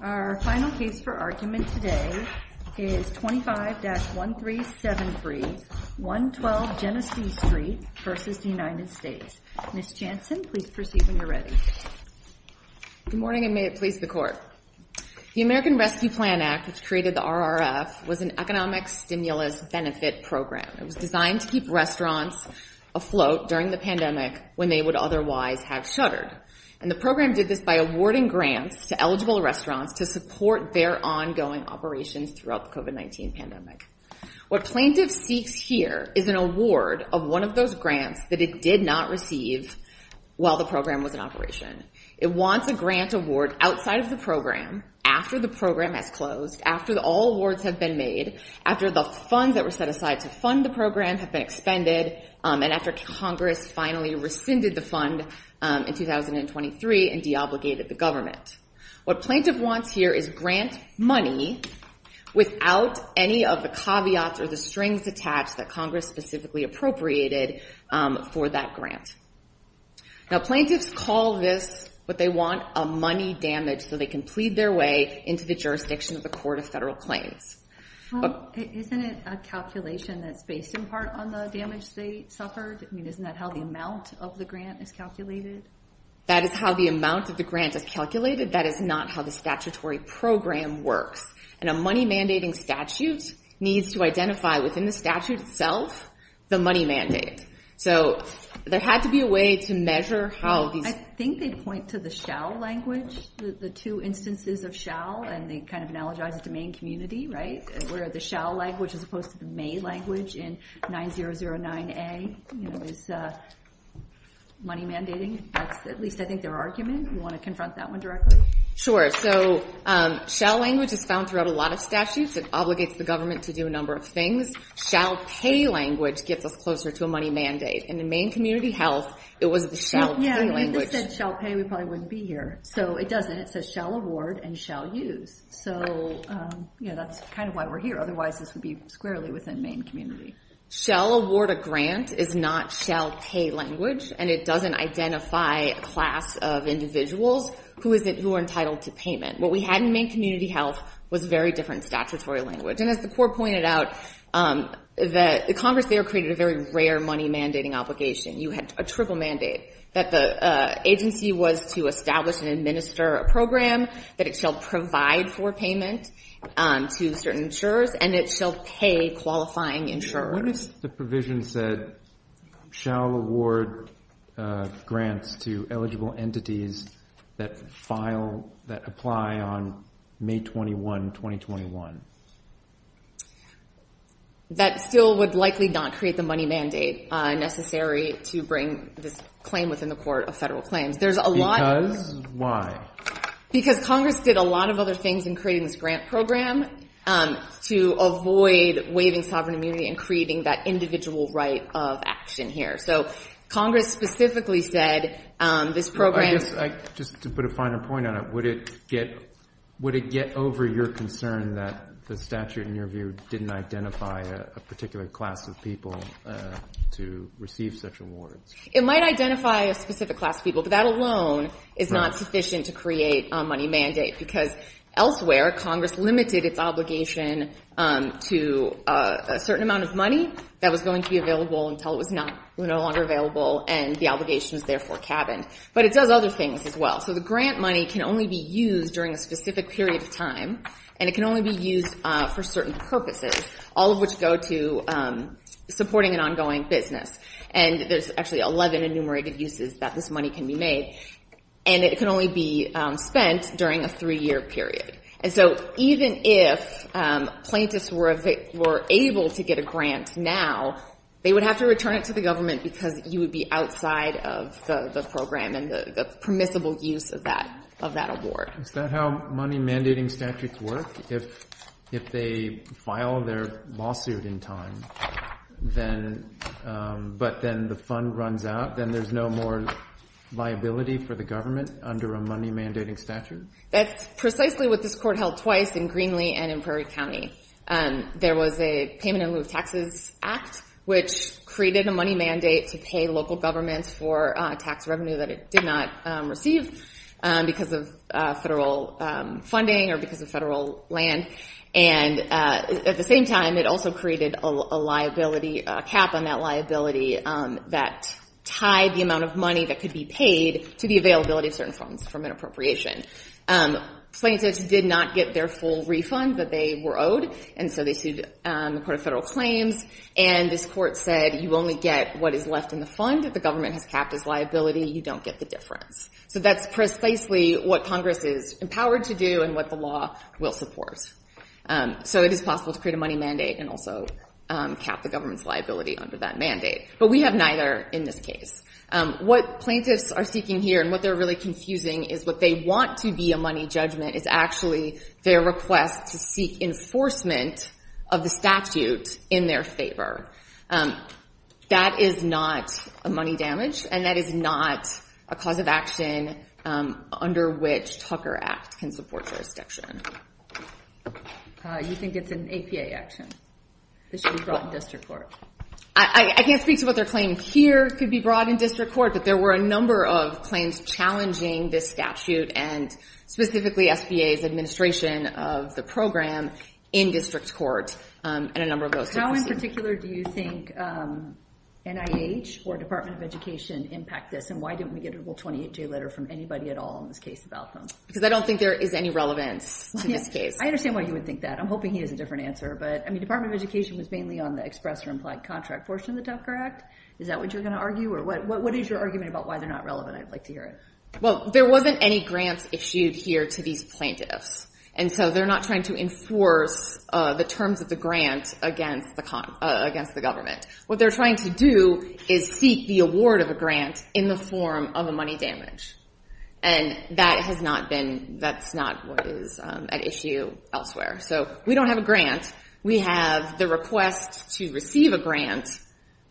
Our final case for argument today is 25-1373 112 Genesee Street versus the United States. Ms. Jansen, please proceed when you're ready. Good morning and may it please the court. The American Rescue Plan Act, which created the RRF, was an economic stimulus benefit program. It was designed to keep restaurants afloat during the pandemic when they would otherwise have shuttered. And the program did this by awarding grants to restaurants to support their ongoing operations throughout the COVID-19 pandemic. What plaintiffs seeks here is an award of one of those grants that it did not receive while the program was in operation. It wants a grant award outside of the program after the program has closed, after all awards have been made, after the funds that were set aside to fund the program have been expended, and after Congress finally rescinded the fund in 2023 and deobligated the government. What plaintiff wants here is grant money without any of the caveats or the strings attached that Congress specifically appropriated for that grant. Now, plaintiffs call this what they want, a money damage, so they can plead their way into the jurisdiction of the Court of Federal Claims. Isn't it a calculation that's based in part on the damage they suffered? I mean, isn't that how the amount of the grant is calculated? That is how the amount of the grant is calculated. That is not how the statutory program works. And a money mandating statute needs to identify within the statute itself the money mandate. So there had to be a way to measure how these... I think they point to the shall language, the two instances of shall, and they kind of analogize it to Maine community, right? Where the shall language as opposed to the argument. You want to confront that one directly? Sure. So shall language is found throughout a lot of statutes. It obligates the government to do a number of things. Shall pay language gets us closer to a money mandate, and in Maine community health, it was the shall pay language. Yeah, if you said shall pay, we probably wouldn't be here. So it doesn't. It says shall award and shall use. So, you know, that's kind of why we're here. Otherwise, this would be squarely within Maine community. Shall award a grant is not shall pay language, and it doesn't identify a class of individuals who are entitled to payment. What we had in Maine community health was very different statutory language. And as the court pointed out, the Congress there created a very rare money mandating obligation. You had a triple mandate, that the agency was to establish and administer a program, that it shall provide for payment to certain insurers, and it shall pay qualifying insurers. What if the provision said shall award grants to eligible entities that file, that apply on May 21, 2021? That still would likely not create the money mandate necessary to bring this claim within the court of federal claims. There's a lot. Because why? Because Congress did a lot of other things in this grant program to avoid waiving sovereign immunity and creating that individual right of action here. So Congress specifically said this program... I guess, just to put a finer point on it, would it get over your concern that the statute, in your view, didn't identify a particular class of people to receive such awards? It might identify a specific class of people, but that alone is not sufficient to create a money mandate. Because elsewhere, Congress limited its obligation to a certain amount of money that was going to be available until it was no longer available, and the obligation was therefore cabined. But it does other things as well. So the grant money can only be used during a specific period of time, and it can only be used for certain purposes, all of which go to supporting an ongoing business. And there's actually 11 enumerated uses that this money can be made. And it can only be spent during a three-year period. And so even if plaintiffs were able to get a grant now, they would have to return it to the government because you would be outside of the program and the permissible use of that award. Is that how money mandating statutes work? If they file their lawsuit in time, but then the fund runs out, then there's no more liability for the government under a money mandating statute? That's precisely what this court held twice in Greenlee and in Prairie County. There was a payment in lieu of taxes act, which created a money mandate to pay local governments for tax revenue that it did not receive because of federal funding or because of federal land. And at the same time, it also created a liability cap on that liability that tied the amount of money that could be paid to the availability of certain funds from an appropriation. Plaintiffs did not get their full refund that they were owed, and so they sued the Court of Federal Claims. And this court said you only get what is left in the fund. If the government has capped its liability, you don't get the difference. So that's precisely what Congress is empowered to do and what the law will support. So it is possible to create a money mandate and also cap the government's liability under that mandate. But we have neither in this case. What plaintiffs are seeking here and what they're really confusing is what they want to be a money judgment is actually their request to seek enforcement of the statute in their favor. That is not a money damage, and that is not a cause of action under which Tucker Act can support jurisdiction. You think it's an APA action. This should be brought in district court. I can't speak to what they're claiming here. It could be brought in district court, but there were a number of claims challenging this statute and specifically SBA's administration of the program in district court and a number of those. How in particular do you think NIH or Department of Education impact this, and why didn't we get a full 28-day letter from anybody at all in this case about them? Because I don't think there is any relevance to this case. I understand why you would think that. I'm hoping he has a different answer. But I mean, Department of Education was mainly on the express or implied contract portion of the Tucker Act. Is that what you're going to argue, or what is your argument about why they're not relevant? I'd like to hear it. Well, there wasn't any grants issued here to these plaintiffs, and so they're not trying to enforce the terms of the grant against the government. What they're trying to do is seek the award of grant in the form of a money damage, and that's not what is at issue elsewhere. So we don't have a grant. We have the request to receive a grant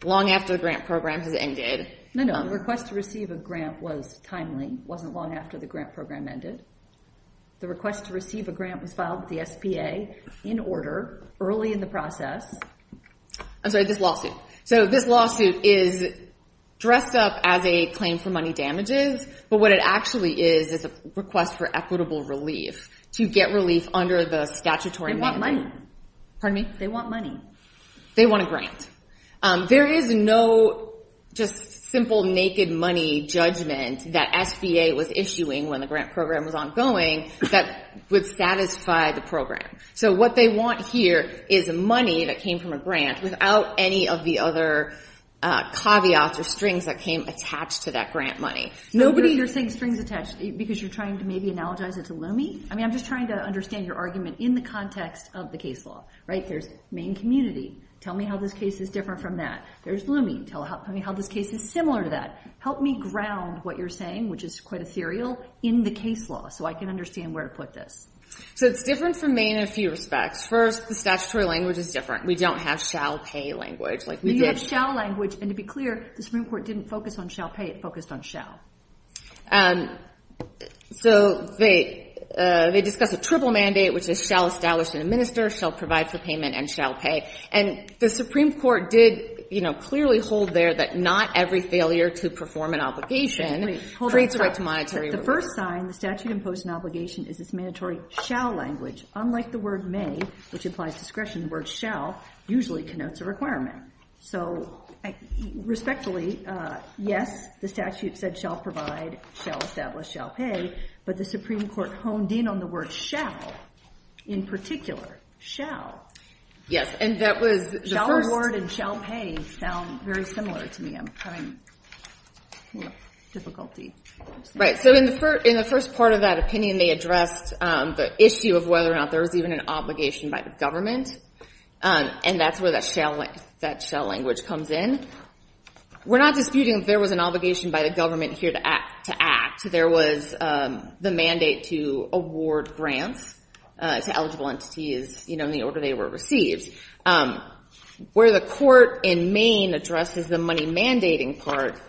long after the grant program has ended. No, no. The request to receive a grant was timely. It wasn't long after the grant program ended. The request to receive a grant was filed with the SBA in order early in the process. I'm sorry, this lawsuit. So this lawsuit is dressed up as a claim for money damages, but what it actually is is a request for equitable relief to get relief under the statutory mandate. They want money. Pardon me? They want money. They want a grant. There is no just simple naked money judgment that SBA was issuing when the grant program was ongoing that would satisfy the program. So what they want here is money that came from a grant without any of the other caveats or strings that came attached to that grant money. Nobody... You're saying strings attached because you're trying to maybe analogize it to looming? I mean, I'm just trying to understand your argument in the context of the case law, right? There's Maine community. Tell me how this case is different from that. There's looming. Tell me how this case is similar to that. Help me ground what you're saying, which is quite ethereal, in the case law so I can understand where to put this. So it's different from Maine in a few respects. First, the statutory language is different. We don't have shall pay language like we did. You have shall language, and to be clear, the Supreme Court didn't focus on shall pay. It focused on shall. So they discussed a triple mandate, which is shall establish and administer, shall provide for payment, and shall pay. And the Supreme Court did clearly hold there that not every failure to perform an obligation creates a right to monetary relief. The first sign the statute imposed an obligation is this mandatory shall language. Unlike the word may, which implies discretion, the word shall usually connotes a requirement. So respectfully, yes, the statute said shall provide, shall establish, shall pay, but the Supreme Court honed in on the word shall, in particular, shall. Yes, and that was the first- Shall award and shall pay sound very similar to me. I'm having difficulty. Right. So in the first part of that opinion, they addressed the issue of whether or not there was even an obligation by the government, and that's where that shall language comes in. We're not disputing if there was an obligation by the government here to act. There was the mandate to award grants to eligible entities in the order they were received. Where the court in Maine addresses the money mandating part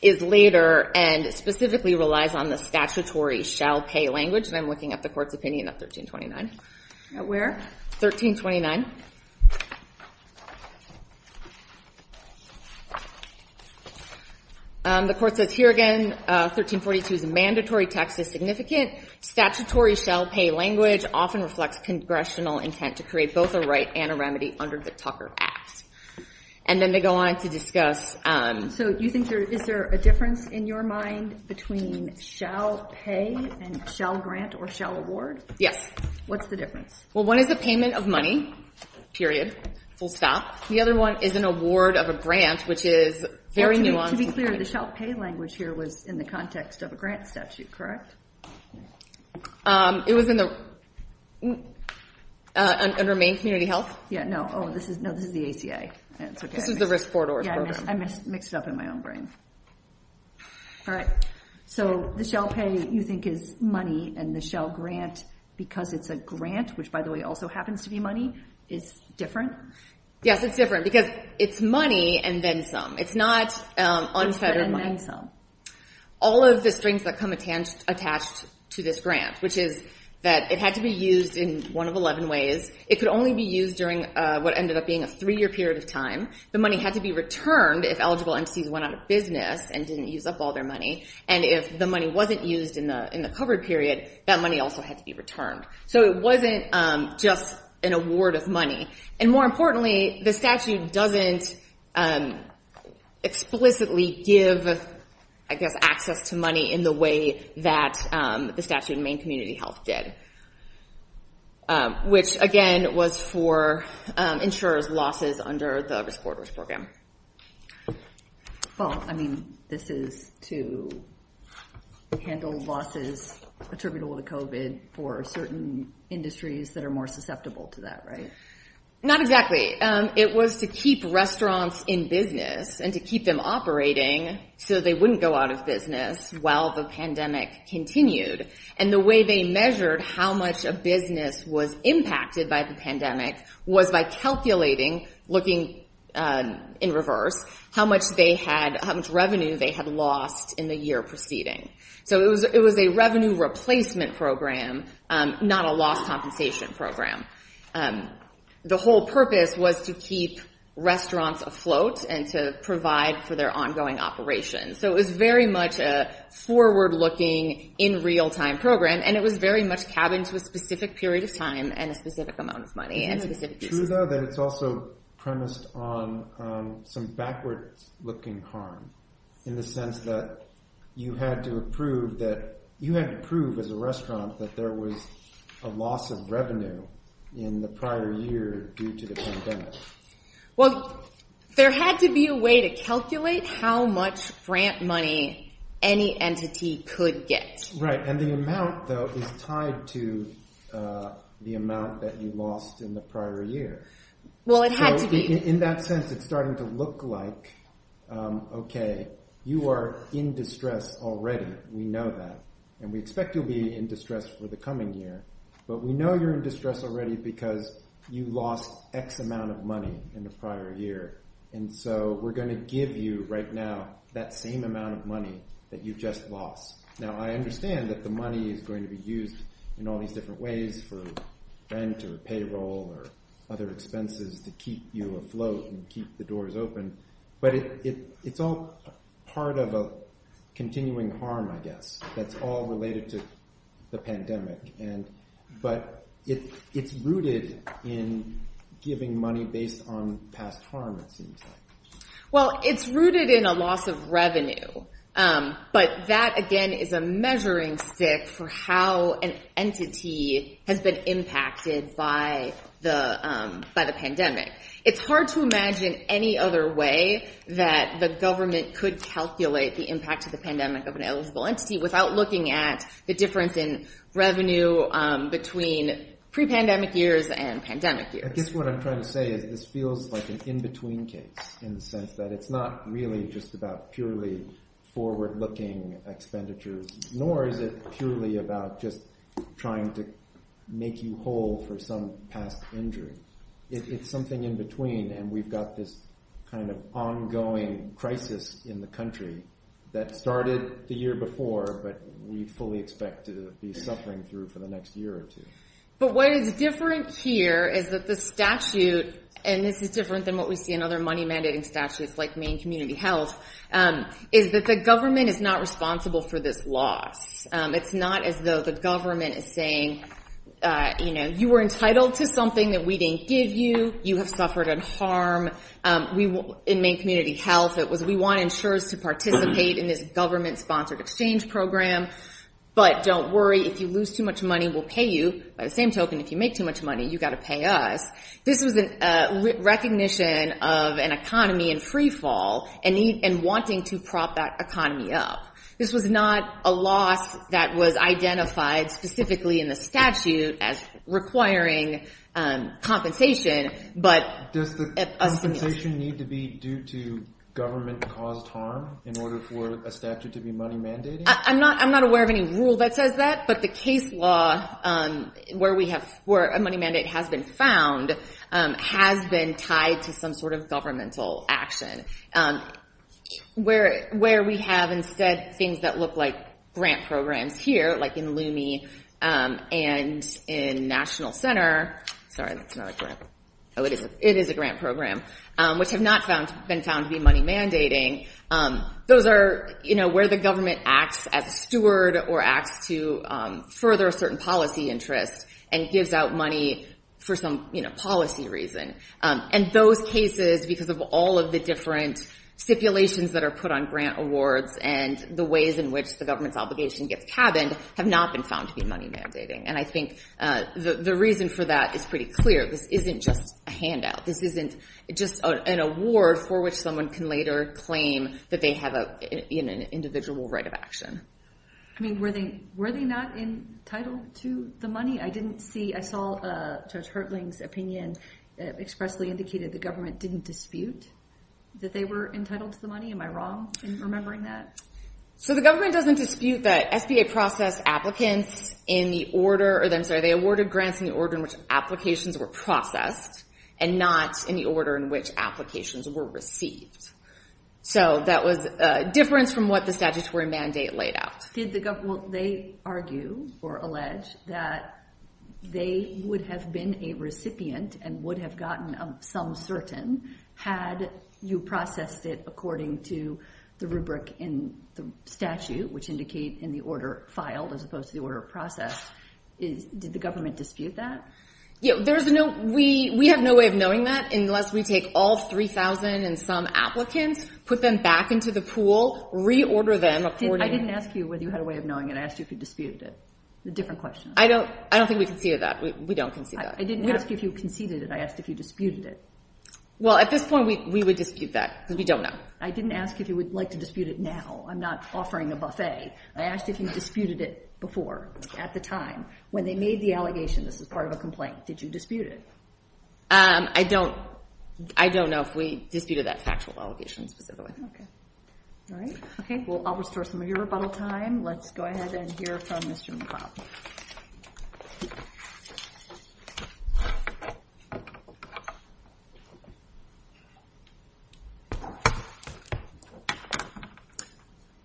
is later and specifically relies on the statutory shall pay language, and I'm looking at the court's opinion of 1329. At where? 1329. The court says here again, 1342's mandatory text is significant. Statutory shall pay language often reflects congressional intent to create both a right and a remedy under the Tucker Act. And then they go on to discuss- So you think there, is there a difference in your mind between shall pay and shall grant or shall award? Yes. What's the difference? Well, one is the payment of money, period, full stop. The other one is an award of a grant, which is very nuanced. To be clear, the shall pay language here was in the context of a grant statute, correct? It was in the, under Maine Community Health? Yeah, no. Oh, this is, no, this is the ACA. This is the risk for doors program. I mixed it up in my own brain. All right. So the shall pay you think is money and the shall grant, because it's a grant, which by the way also happens to be money, is different? Yes, it's different because it's money and then some. It's not unfettered money. And then some. All of the strings that come attached to this grant, which is that it had to be used in one of 11 ways. It could only be used during what ended up being a three-year period of time. The money had to be returned if eligible entities went out of business and didn't use up all their money. And if the money wasn't used in the covered period, that money also had to be returned. So it wasn't just an award of money. And more importantly, the statute doesn't explicitly give, I guess, access to money in the way that the statute in Maine Community Health did, which again was for insurers' losses under the risk for doors program. Well, I mean, this is to handle losses attributable to COVID for certain industries that are more susceptible to that, right? Not exactly. It was to keep restaurants in business and to keep them operating so they wouldn't go out of business while the pandemic continued. And the way they measured how much a business was impacted by the pandemic was by calculating, looking in reverse, how much revenue they had lost in the year preceding. So it was a revenue replacement program, not a loss compensation program. And the whole purpose was to keep restaurants afloat and to provide for their ongoing operations. So it was very much a forward-looking, in real-time program. And it was very much cabined to a specific period of time and a specific amount of money. And it's also premised on some backwards-looking harm in the sense that you had to prove as a restaurant that there was a loss of revenue in the prior year due to the pandemic. Well, there had to be a way to calculate how much grant money any entity could get. Right. And the amount, though, is tied to the amount that you lost in the prior year. Well, it had to be. In that sense, it's starting to look like, okay, you are in distress already. We know that. And we expect you'll be in distress for the coming year. But we know you're in distress already because you lost X amount of money in the prior year. And so we're going to give you right now that same amount of money that you just lost. Now, I understand that the money is going to be used in all these different ways for rent or payroll or other expenses to keep you afloat and keep the doors open. But it's all part of a continuing harm, I guess, that's all related to the pandemic. But it's rooted in giving money based on past harm, it seems like. Well, it's rooted in a loss of revenue. But that, again, is a measuring stick for how an entity has been impacted by the pandemic. It's hard to imagine any other way that the government could calculate the impact of the pandemic of an eligible entity without looking at the difference in revenue between pre-pandemic years and pandemic years. I guess what I'm trying to say is this feels like an in-between case in the sense that it's not really just about purely forward-looking expenditures, nor is it purely about just trying to make you whole for some past injury. It's something in between. And we've got this kind of ongoing crisis in the country that started the year before, but we fully expect to be suffering through for the next year or two. But what is different here is that the statute, and this is different than what we see in other money mandating statutes like Maine Community Health, is that the government is not responsible for this loss. It's not as though the government is saying, you know, you were entitled to something that we didn't give you. You have suffered a harm. In Maine Community Health, it was, we want insurers to participate in this government-sponsored exchange program, but don't worry, if you lose too much money, we'll pay you. By the same token, if you make too much money, you've got to pay us. This was a recognition of an economy in free fall and wanting to prop that economy up. This was not a loss that was identified specifically in the statute as requiring compensation, but... Does the compensation need to be due to government-caused harm in order for a statute to be money mandating? I'm not aware of any rule that says that, but the case law where a money mandate has been found has been tied to some sort of governmental action where we have instead things that look like grant programs here, like in Lume and in National Center. Sorry, that's not a grant. Oh, it is a grant program, which have not been found to be money mandating. Those are, you know, where the government acts as a steward or acts to further a certain policy interest and gives out money for some, you know, policy reason. And those cases, because of all of the different stipulations that are put on grant awards and the ways in which the government's obligation gets cabined have not been found to be money mandating. And I think the reason for that is pretty clear. This isn't just a handout. This isn't just an award for which someone can later claim that they have an individual right of action. I mean, were they not entitled to the money? I saw Judge Hertling's opinion expressly indicated the government didn't dispute that they were entitled to the money. Am I wrong in remembering that? So the government doesn't dispute that SBA processed applicants in the order, or I'm sorry, they awarded grants in the order in which applications were processed and not in the order in which applications were received. So that was a difference from what the statutory mandate laid out. They argue or allege that they would have been a recipient and would have gotten some certain had you processed it according to the rubric in the statute which indicate in the order filed as opposed to the order processed. Did the government dispute that? We have no way of knowing that unless we take all 3,000 and some applicants, put them back into the pool, reorder them according... I didn't ask you whether you had a way of knowing it. I asked you if you disputed it. It's a different question. I don't think we conceded that. We don't concede that. I didn't ask you if you conceded it. I asked if you disputed it. Well, at this point, we would dispute that because we don't know. I didn't ask if you would like to dispute it now. I'm not offering a buffet. I asked if you disputed it before at the time when they made the allegation. This is part of a complaint. Did you dispute it? I don't know if we disputed that factual allegation specifically. Okay, all right. Okay, well, I'll restore some of your rebuttal time. Let's go ahead and hear from Mr. McLeod.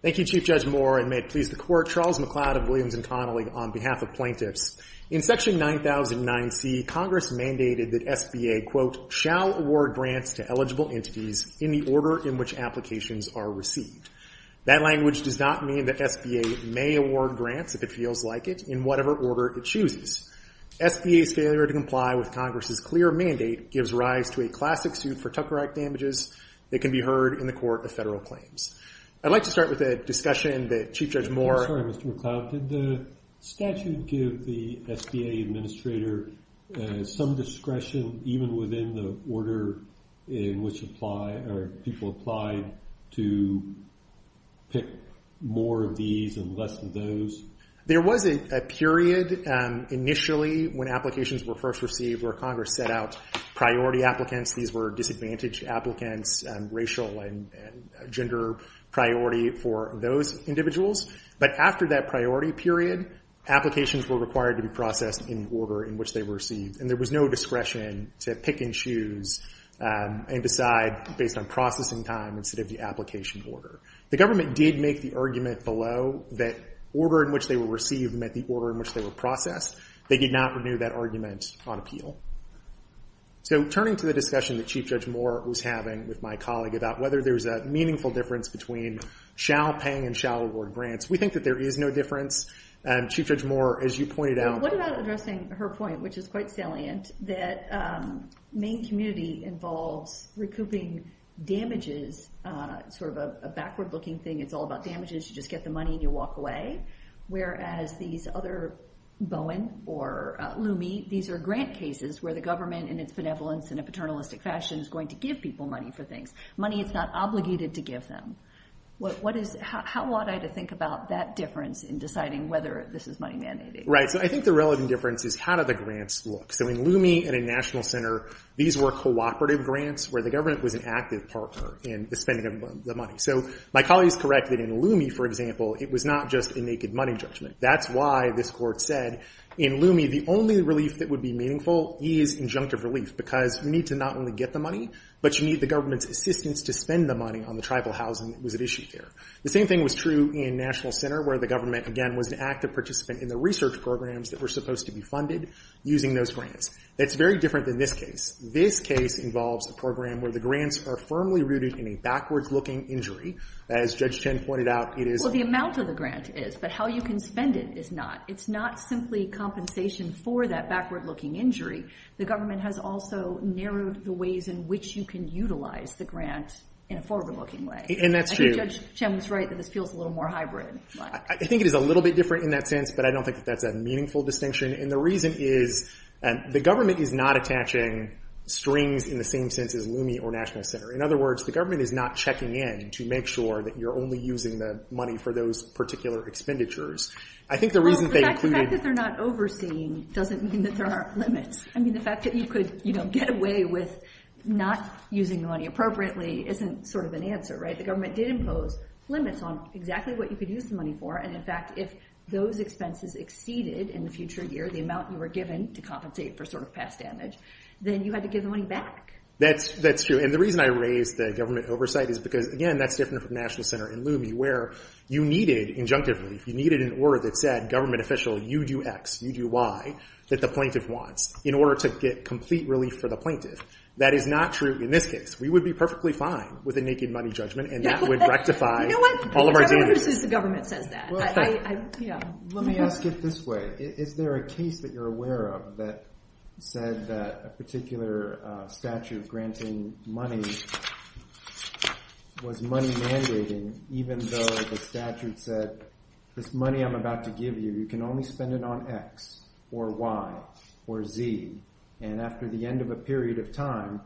Thank you, Chief Judge Moore. And may it please the Court, Charles McLeod of Williams & Connolly on behalf of plaintiffs. In Section 9009C, Congress mandated that SBA, quote, shall award grants to eligible entities in the order in which applications are received. That language does not mean that SBA may award grants if it feels like it in whatever order it chooses. SBA's failure to comply with Congress's clear mandate gives rise to a classic suit for Tucker Act damages that can be heard in the Court of Federal Claims. I'd like to start with a discussion that Chief Judge Moore... I'm sorry, Mr. McLeod. Did the statute give the SBA administrator some discretion even within the order in which people applied to pick more of these and less of those? There was a period initially when applications were first received where Congress set out priority applicants. These were disadvantaged applicants, racial and gender priority for those individuals. But after that priority period, applications were required to be processed in the order in which they were received. And there was no discretion to pick and choose and decide based on processing time instead of the application order. The government did make the argument below that order in which they were received meant the order in which they were processed. They did not renew that argument on appeal. So turning to the discussion that Chief Judge Moore was having with my colleague about whether there's a meaningful difference between shall paying and shall award grants, we think that there is no difference. Chief Judge Moore, as you pointed out... What about addressing her point, which is quite salient, that Maine community involves recouping damages, sort of a backward-looking thing. It's all about damages. You just get the money and you walk away. Whereas these other, Bowen or Lume, these are grant cases where the government in its benevolence in a paternalistic fashion is going to give people money for things, money it's not obligated to give them. How ought I to think about that difference in deciding whether this is money mandating? So I think the relevant difference is how do the grants look? So in Lume and in National Center, these were cooperative grants where the government was an active partner in the spending of the money. So my colleague is correct that in Lume, for example, it was not just a naked money judgment. That's why this court said in Lume, the only relief that would be meaningful is injunctive relief, because you need to not only get the money, but you need the government's assistance to spend the money on the tribal housing that was at issue there. The same thing was true in National Center, where the government, again, was an active participant in the research programs that were supposed to be funded using those grants. That's very different than this case. This case involves a program where the grants are firmly rooted in a backwards-looking injury. As Judge Chen pointed out, it is- Well, the amount of the grant is, but how you can spend it is not. It's not simply compensation for that backward-looking injury. The government has also narrowed the ways in which you can utilize the grant in a forward-looking way. And that's true. I think Judge Chen was right that this feels a little more hybrid. I think it is a little bit different in that sense, but I don't think that's a meaningful distinction. And the reason is, the government is not attaching strings in the same sense as LUMIE or National Center. In other words, the government is not checking in to make sure that you're only using the money for those particular expenditures. I think the reason they included- The fact that they're not overseeing doesn't mean that there aren't limits. I mean, the fact that you could get away with not using the money appropriately isn't sort of an answer, right? The government did impose limits on exactly what you could use the money for. And in fact, if those expenses exceeded in the future year, the amount you were given to compensate for sort of past damage, then you had to give the money back. That's true. And the reason I raised the government oversight is because, again, that's different from National Center and LUMIE, where you needed injunctive relief. You needed an order that said, government official, you do X, you do Y that the plaintiff wants in order to get complete relief for the plaintiff. That is not true in this case. We would be perfectly fine with a naked money judgment and that would rectify- You know what? All of our duties. I don't know who says the government says that. Yeah. Let me ask it this way. Is there a case that you're aware of that said that a particular statute granting money was money mandating, even though the statute said, this money I'm about to give you, you can only spend it on X or Y or Z. And after the end of a period of time,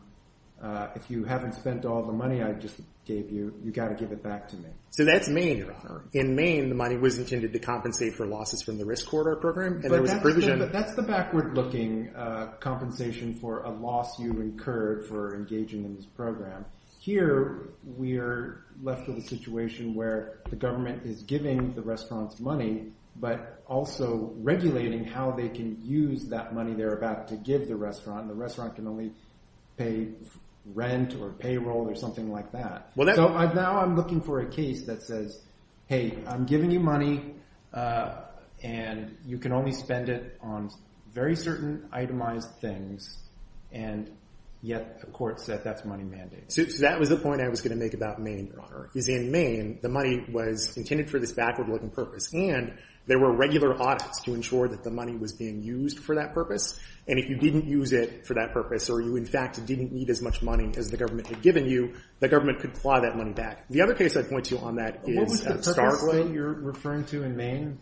if you haven't spent all the money I just gave you, you got to give it back to me. So that's Maine. In Maine, the money was intended to compensate for losses from the risk corridor program. But that's the backward looking compensation for a loss you incurred for engaging in this program. Here, we're left with a situation where the government is giving the restaurants money, but also regulating how they can use that money they're about to give the restaurant. The restaurant can only pay rent or payroll or something like that. Now, I'm looking for a case that says, hey, I'm giving you money, and you can only spend it on very certain itemized things. And yet, the court said that's money mandating. So that was the point I was going to make about Maine, Your Honor, is in Maine, the money was intended for this backward looking purpose. And there were regular audits to ensure that the money was being used for that purpose. And if you didn't use it for that purpose, or you, in fact, didn't need as much money as the government had given you, the government could plow that money back. The other case I'd point to on that is Starkway. What was the purpose that you're referring to in Maine,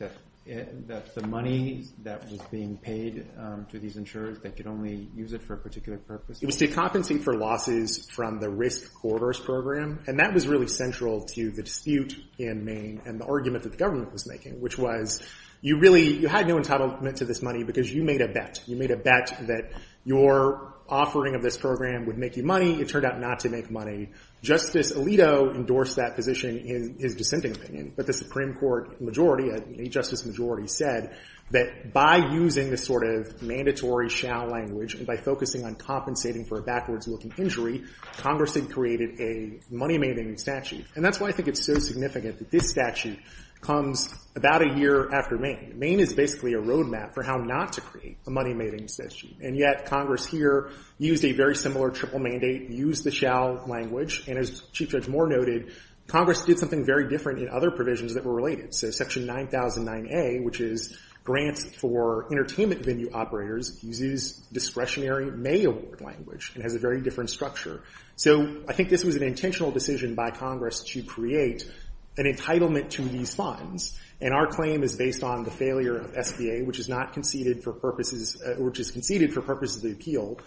that the money that was being paid to these insurers, they could only use it for a particular purpose? It was to compensate for losses from the risk corridors program. And that was really central to the dispute in Maine and the argument that the government was making, which was you really, you had no entitlement to this money because you made a bet. You made a bet that your offering of this program would make you money. It turned out not to make money. Justice Alito endorsed that position in his dissenting opinion. But the Supreme Court majority, a justice majority, said that by using this sort of mandatory shall language and by focusing on compensating for a backwards looking injury, Congress had created a money maintenance statute. And that's why I think it's so significant that this statute comes about a year after Maine. Maine is basically a roadmap for how not to create a money maintenance statute. And yet Congress here used a very similar triple mandate, used the shall language. And as Chief Judge Moore noted, Congress did something very different in other provisions that were related. So section 9009A, which is grants for entertainment venue operators, uses discretionary may award language and has a very different structure. So I think this was an intentional decision by Congress to create an entitlement to these funds. And our claim is based on the failure of SBA, which is conceded for purposes of the appeal.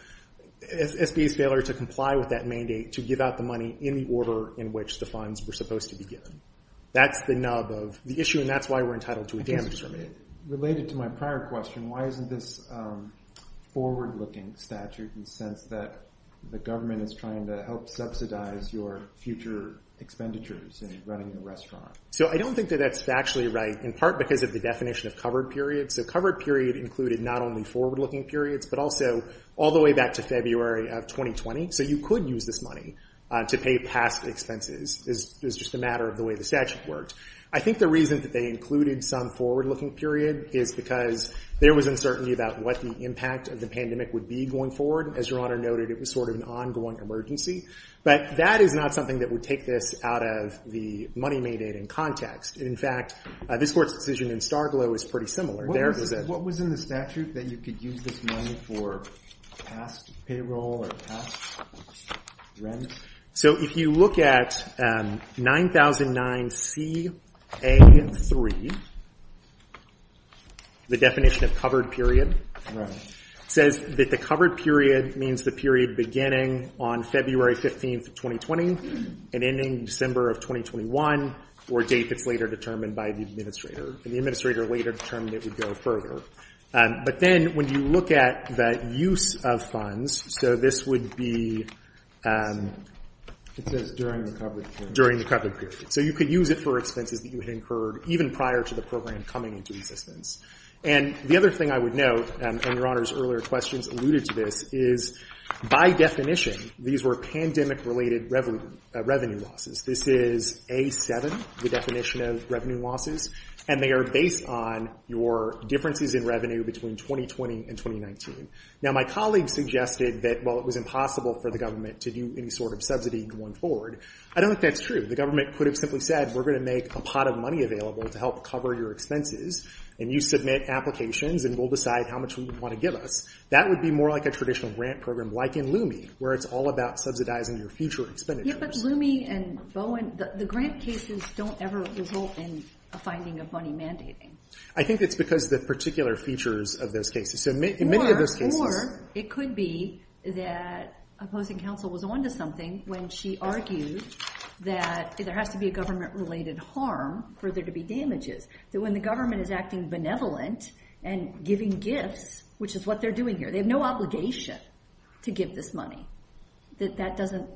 SBA's failure to comply with that mandate to give out the money in the order in which the funds were supposed to be given. That's the nub of the issue and that's why we're entitled to a damages remand. Related to my prior question, why isn't this forward looking statute in the sense that the government is trying to help subsidize your future expenditures in running the restaurant? So I don't think that that's factually right, in part because of the definition of covered periods. So covered period included not only forward looking periods, but also all the way back to February of 2020. So you could use this money to pay past expenses. It's just a matter of the way the statute worked. I think the reason that they included some forward looking period is because there was uncertainty about what the impact of the pandemic would be going forward. As Your Honor noted, it was sort of an ongoing emergency. But that is not something that would take this out of the money mandate in context. In fact, this Court's decision in Starglow is pretty similar. There was a- What was in the statute that you could use this money for past payroll or past rent? So if you look at 9009CA3, the definition of covered period, says that the covered period means the period beginning on February 15th of 2020 and ending December of 2021 or a date that's later determined by the administrator. And the administrator later determined it would go further. But then when you look at the use of funds, so this would be- It says during the covered period. During the covered period. So you could use it for expenses that you had incurred even prior to the program coming into existence. And the other thing I would note, and Your Honor's earlier questions alluded to this, is by definition, these were pandemic related revenue losses. This is A7, the definition of revenue losses. And they are based on your differences in revenue between 2020 and 2019. Now, my colleagues suggested that, well, it was impossible for the government to do any sort of subsidy going forward. I don't think that's true. The government could have simply said, we're going to make a pot of money available to help cover your expenses. And you submit applications and we'll decide how much we would want to give us. That would be more like a traditional grant program, like in LUMIE, where it's all about subsidizing your future expenditures. Yeah, but LUMIE and Bowen, the grant cases don't ever result in a finding of money mandating. I think it's because of the particular features of those cases. So in many of those cases- Or it could be that opposing counsel was onto something when she argued that there has to be a government related harm for there to be damages. That when the government is acting benevolent and giving gifts, which is what they're doing here, they have no obligation to give this money. That doesn't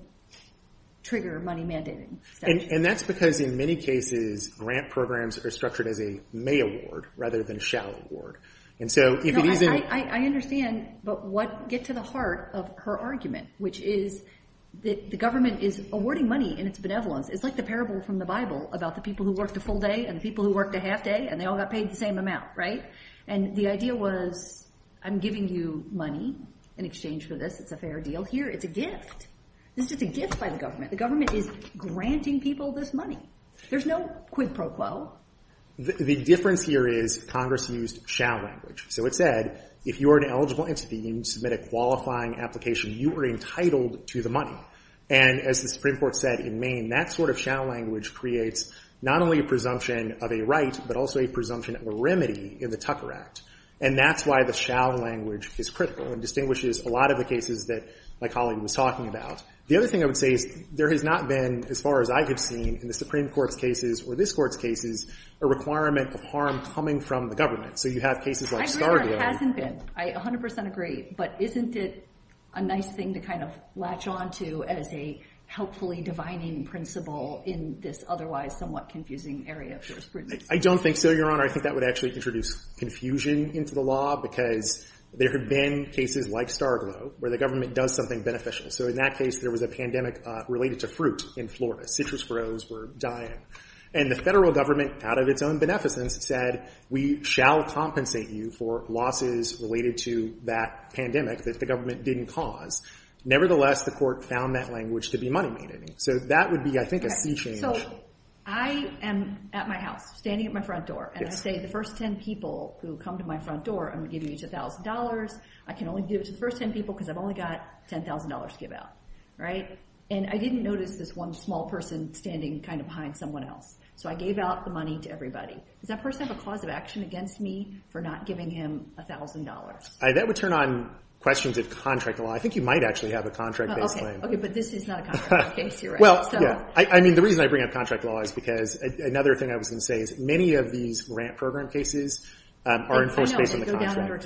trigger money mandating. And that's because in many cases, grant programs are structured as a may award rather than a shall award. And so if it isn't- I understand, but get to the heart of her argument, which is that the government is awarding money in its benevolence. It's like the parable from the Bible about the people who worked a full day and the people who worked a half day and they all got paid the same amount, right? And the idea was, I'm giving you money in exchange for this. It's a fair deal here. It's a gift. This is a gift by the government. The government is granting people this money. There's no quid pro quo. The difference here is Congress used shall language. So it said, if you are an eligible entity and you submit a qualifying application, you are entitled to the money. And as the Supreme Court said in Maine, that sort of shall language creates not only a presumption of a right, but also a presumption of a remedy in the Tucker Act. And that's why the shall language is critical and distinguishes a lot of the cases that my colleague was talking about. The other thing I would say is there has not been, as far as I have seen, in the Supreme Court's cases or this Court's cases, a requirement of harm coming from the government. So you have cases like Starglow. I agree where it hasn't been. I 100% agree. But isn't it a nice thing to kind of latch onto as a helpfully divining principle in this otherwise somewhat confusing area of jurisprudence? I don't think so, Your Honor. I think that would actually introduce confusion into the law because there have been cases like Starglow where the government does something beneficial. So in that case, there was a pandemic related to fruit in Florida. Citrus grows were dying. And the federal government, out of its own beneficence, said we shall compensate you for losses related to that pandemic that the government didn't cause. Nevertheless, the court found that language to be money-maintaining. So that would be, I think, a sea change. So I am at my house standing at my front door. And I say, the first 10 people who come to my front door, I'm giving you $2,000. I can only give it to the first 10 people because I've only got $10,000 to give out, right? And I didn't notice this one small person standing kind of behind someone else. So I gave out the money to everybody. Does that person have a cause of action against me for not giving him $1,000? That would turn on questions of contract law. I think you might actually have a contract-based claim. OK, but this is not a contract-based case, Your Honor. Well, yeah. I mean, the reason I bring up contract law is because another thing I was going to say is many of these grant program cases are enforced based on the contract. I know, they go down under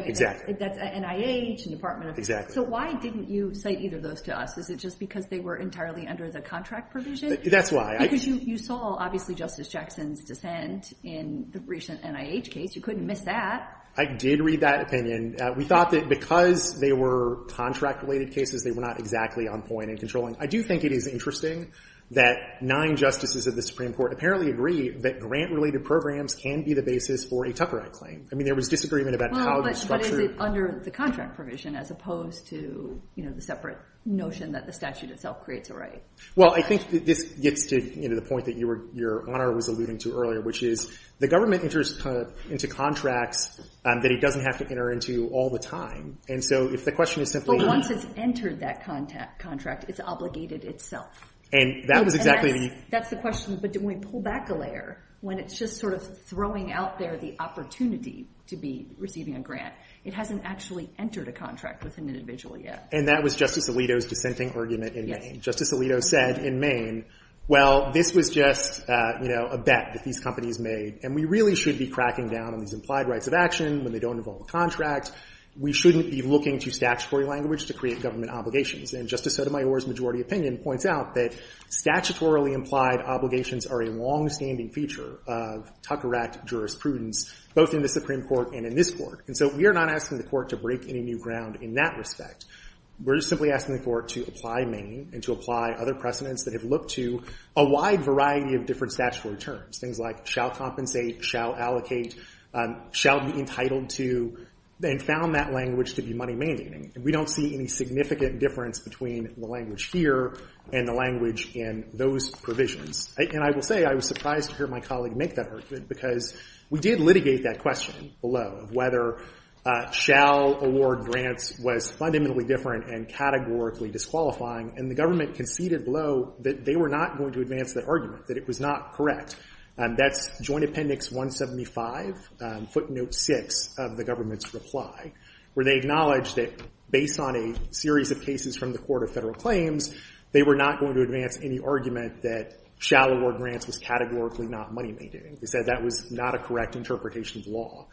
expressorate. Exactly. That's NIH and Department of Health. So why didn't you cite either of those to us? Is it just because they were entirely under the contract provision? That's why. Because you saw, obviously, Justice Jackson's dissent in the recent NIH case. You couldn't miss that. I did read that opinion. We thought that because they were contract-related cases, they were not exactly on point and controlling. I do think it is interesting that nine justices of the Supreme Court apparently agree that grant-related programs can be the basis for a Tucker Act claim. I mean, there was disagreement about how you structure it. But is it under the contract provision, as opposed to the separate notion that the statute itself creates a right? Well, I think this gets to the point that your honor was alluding to earlier, which is the government enters into contracts that it doesn't have to enter into all the time. And so if the question is simply- But once it's entered that contract, it's obligated itself. And that was exactly the- That's the question. But when we pull back a layer, when it's just sort of throwing out there the opportunity to be receiving a grant, it hasn't actually entered a contract with an individual yet. And that was Justice Alito's dissenting argument in Maine. Justice Alito said in Maine, well, this was just a bet that these companies made. And we really should be cracking down on these implied rights of action when they don't involve a contract. We shouldn't be looking to statutory language to create government obligations. And Justice Sotomayor's majority opinion points out that statutorily implied obligations are a longstanding feature of Tucker Act jurisprudence, both in the Supreme Court and in this Court. And so we are not asking the Court to break any new ground in that respect. We're simply asking the Court to apply Maine and to apply other precedents that have looked to a wide variety of different statutory terms, things like shall compensate, shall allocate, shall be entitled to, and found that language to be money-mandating. And we don't see any significant difference between the language here and the language in those provisions. And I will say, I was surprised to hear my colleague make that argument because we did litigate that question below of whether shall award grants was fundamentally different and categorically disqualifying. And the government conceded below that they were not going to advance that argument, that it was not correct. That's Joint Appendix 175, footnote 6 of the government's reply, where they acknowledged that based on a series of cases from the Court of Federal Claims, they were not going to advance any argument that shall award grants was categorically not money-mandating. They said that was not a correct interpretation of law.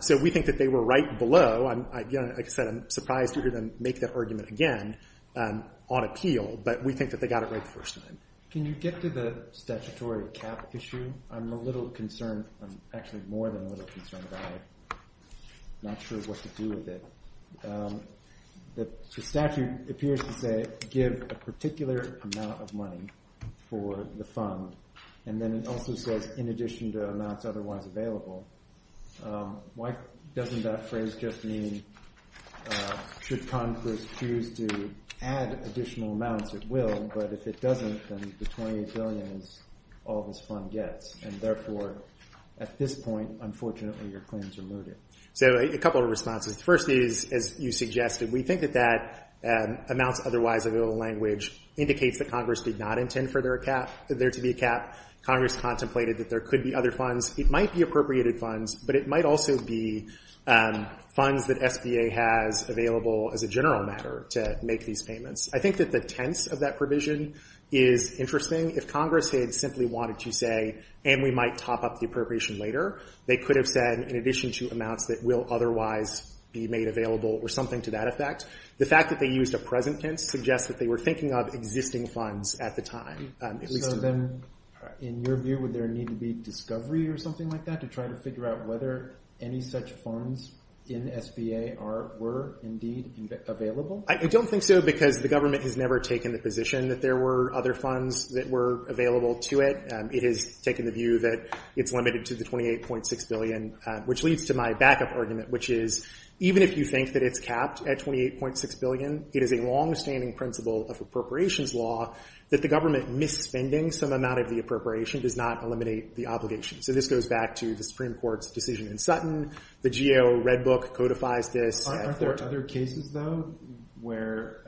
So we think that they were right below. And again, like I said, I'm surprised to hear them make that argument again on appeal. But we think that they got it right the first time. Can you get to the statutory cap issue? I'm a little concerned. I'm actually more than a little concerned. I'm not sure what to do with it. The statute appears to say, give a particular amount of money for the fund. And then it also says, in addition to amounts otherwise available. Why doesn't that phrase just mean, should Congress choose to add additional amounts? It will. But if it doesn't, then the $28 billion is all this fund gets. And therefore, at this point, unfortunately, your claims are mooted. So a couple of responses. First is, as you suggested, we think that that amounts otherwise available language indicates that Congress did not intend for there to be a cap. Congress contemplated that there could be other funds. It might be appropriated funds. But it might also be funds that SBA has available as a general matter to make these payments. I think that the tense of that provision is interesting. If Congress had simply wanted to say, and we might top up the appropriation later, they could have said, in addition to amounts that will otherwise be made available or something to that effect. The fact that they used a present tense suggests that they were thinking of existing funds at the time. So then, in your view, would there need to be discovery or something like that to try to figure out whether any such funds in SBA were indeed available? I don't think so. Because the government has never taken the position that there were other funds that were available to it. It has taken the view that it's limited to the $28.6 billion. Which leads to my backup argument, which is, even if you think that it's capped at $28.6 billion, it is a longstanding principle of appropriations law the government misspending some amount of the appropriation does not eliminate the obligation. So this goes back to the Supreme Court's decision in Sutton. The GAO Red Book codifies this. Aren't there other cases, though, where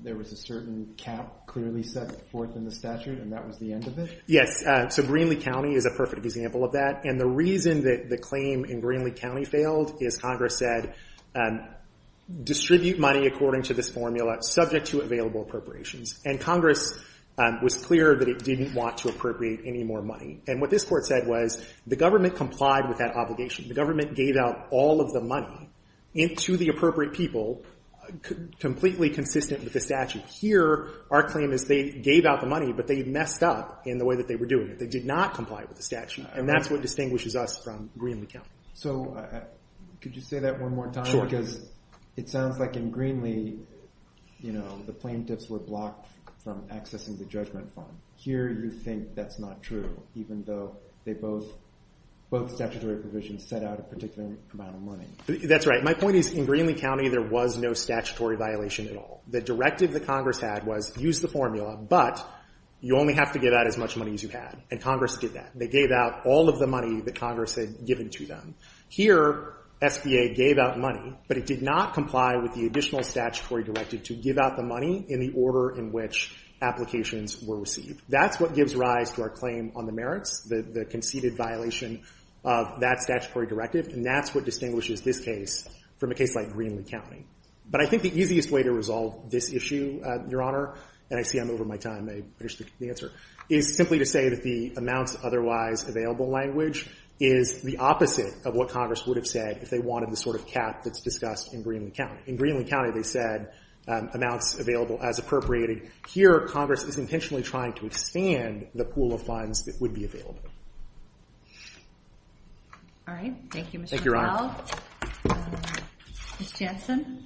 there was a certain cap clearly set forth in the statute and that was the end of it? Yes. So Greenlee County is a perfect example of that. And the reason that the claim in Greenlee County failed is Congress said, distribute money according to this formula, subject to available appropriations. And Congress was clear that it didn't want to appropriate any more money. And what this court said was, the government complied with that obligation. The government gave out all of the money into the appropriate people, completely consistent with the statute. Here, our claim is they gave out the money, but they messed up in the way that they were doing it. They did not comply with the statute. And that's what distinguishes us from Greenlee County. So could you say that one more time? Sure. Because it sounds like in Greenlee, you know, the plaintiffs were blocked from accessing the judgment fund. Here, you think that's not true, even though both statutory provisions set out a particular amount of money. That's right. My point is, in Greenlee County, there was no statutory violation at all. The directive that Congress had was, use the formula, but you only have to give out as much money as you had. And Congress did that. They gave out all of the money that Congress had given to them. Here, SBA gave out money, but it did not comply with the additional statutory directive to give out the money in the order in which applications were received. That's what gives rise to our claim on the merits, the conceded violation of that statutory directive. And that's what distinguishes this case from a case like Greenlee County. But I think the easiest way to resolve this issue, Your Honor, and I see I'm over my time, I finished the answer, is simply to say that the amounts otherwise available language is the opposite of what Congress would have said if they wanted the sort of cap that's discussed in Greenlee County. In Greenlee County, they said, amounts available as appropriated. Here, Congress is intentionally trying to expand the pool of funds that would be available. All right. Thank you, Mr. McLeod. Ms. Jansen.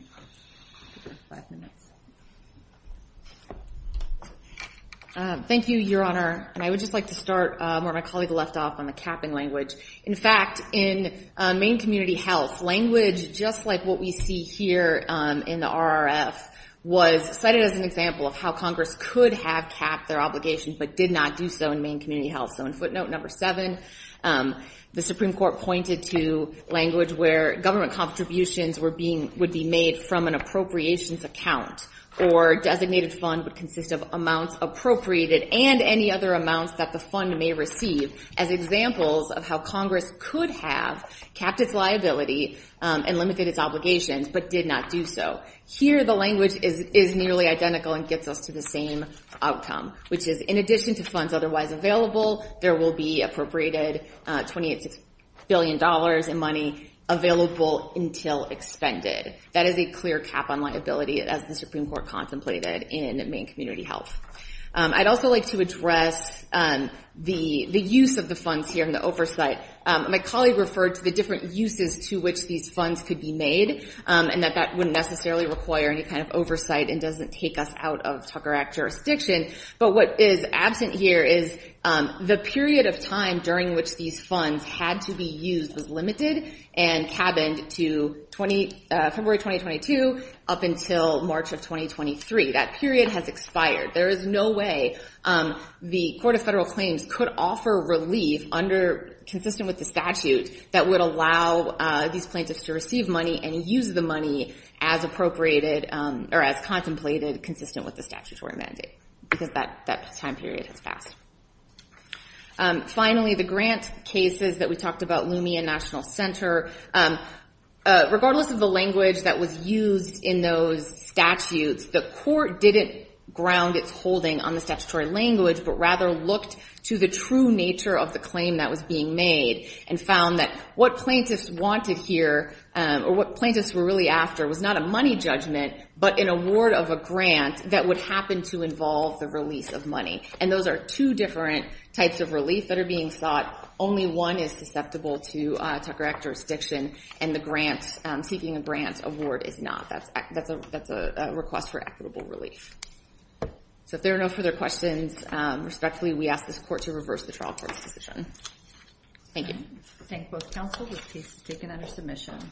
Thank you, Your Honor. And I would just like to start where my colleague left off on the capping language. In fact, in Maine Community Health, language, just like what we see here in the RRF, was cited as an example of how Congress could have capped their obligation, but did not do so in Maine Community Health. So in footnote number seven, the Supreme Court pointed to language where government contributions would be made from an appropriations account, or designated fund would consist of amounts appropriated and any other amounts that the fund may receive as examples of how Congress could have capped its liability and limited its obligations, but did not do so. Here, the language is nearly identical and gets us to the same outcome, which is in addition to funds otherwise available, there will be appropriated $28 billion in money available until expended. That is a clear cap on liability, as the Supreme Court contemplated in Maine Community Health. I'd also like to address the use of the funds here in the oversight. My colleague referred to the different uses to which these funds could be made, and that that wouldn't necessarily require any kind of oversight and doesn't take us out of Tucker Act jurisdiction. But what is absent here is the period of time during which these funds had to be used was limited and cabined to February 2022 up until March of 2023. That period has expired. There is no way the Court of Federal Claims could offer relief consistent with the statute that would allow these plaintiffs to receive money and use the money as appropriated or as contemplated consistent with the statutory mandate, because that time period has passed. Finally, the grant cases that we talked about, Loomian National Center, regardless of the language that was used in those statutes, the Court didn't ground its holding on the statutory language, but rather looked to the true nature of the claim that was being made and found that what plaintiffs wanted here or what plaintiffs were really after was not a money judgment, but an award of a grant that would happen to involve the release of money. And those are two different types of relief that are being sought. Only one is susceptible to Tucker Act jurisdiction, and the grant, seeking a grant award is not. That's a request for equitable relief. So if there are no further questions, respectfully, we ask this Court to reverse the trial court's decision. Thank you. Thank both counsel. The case is taken under submission.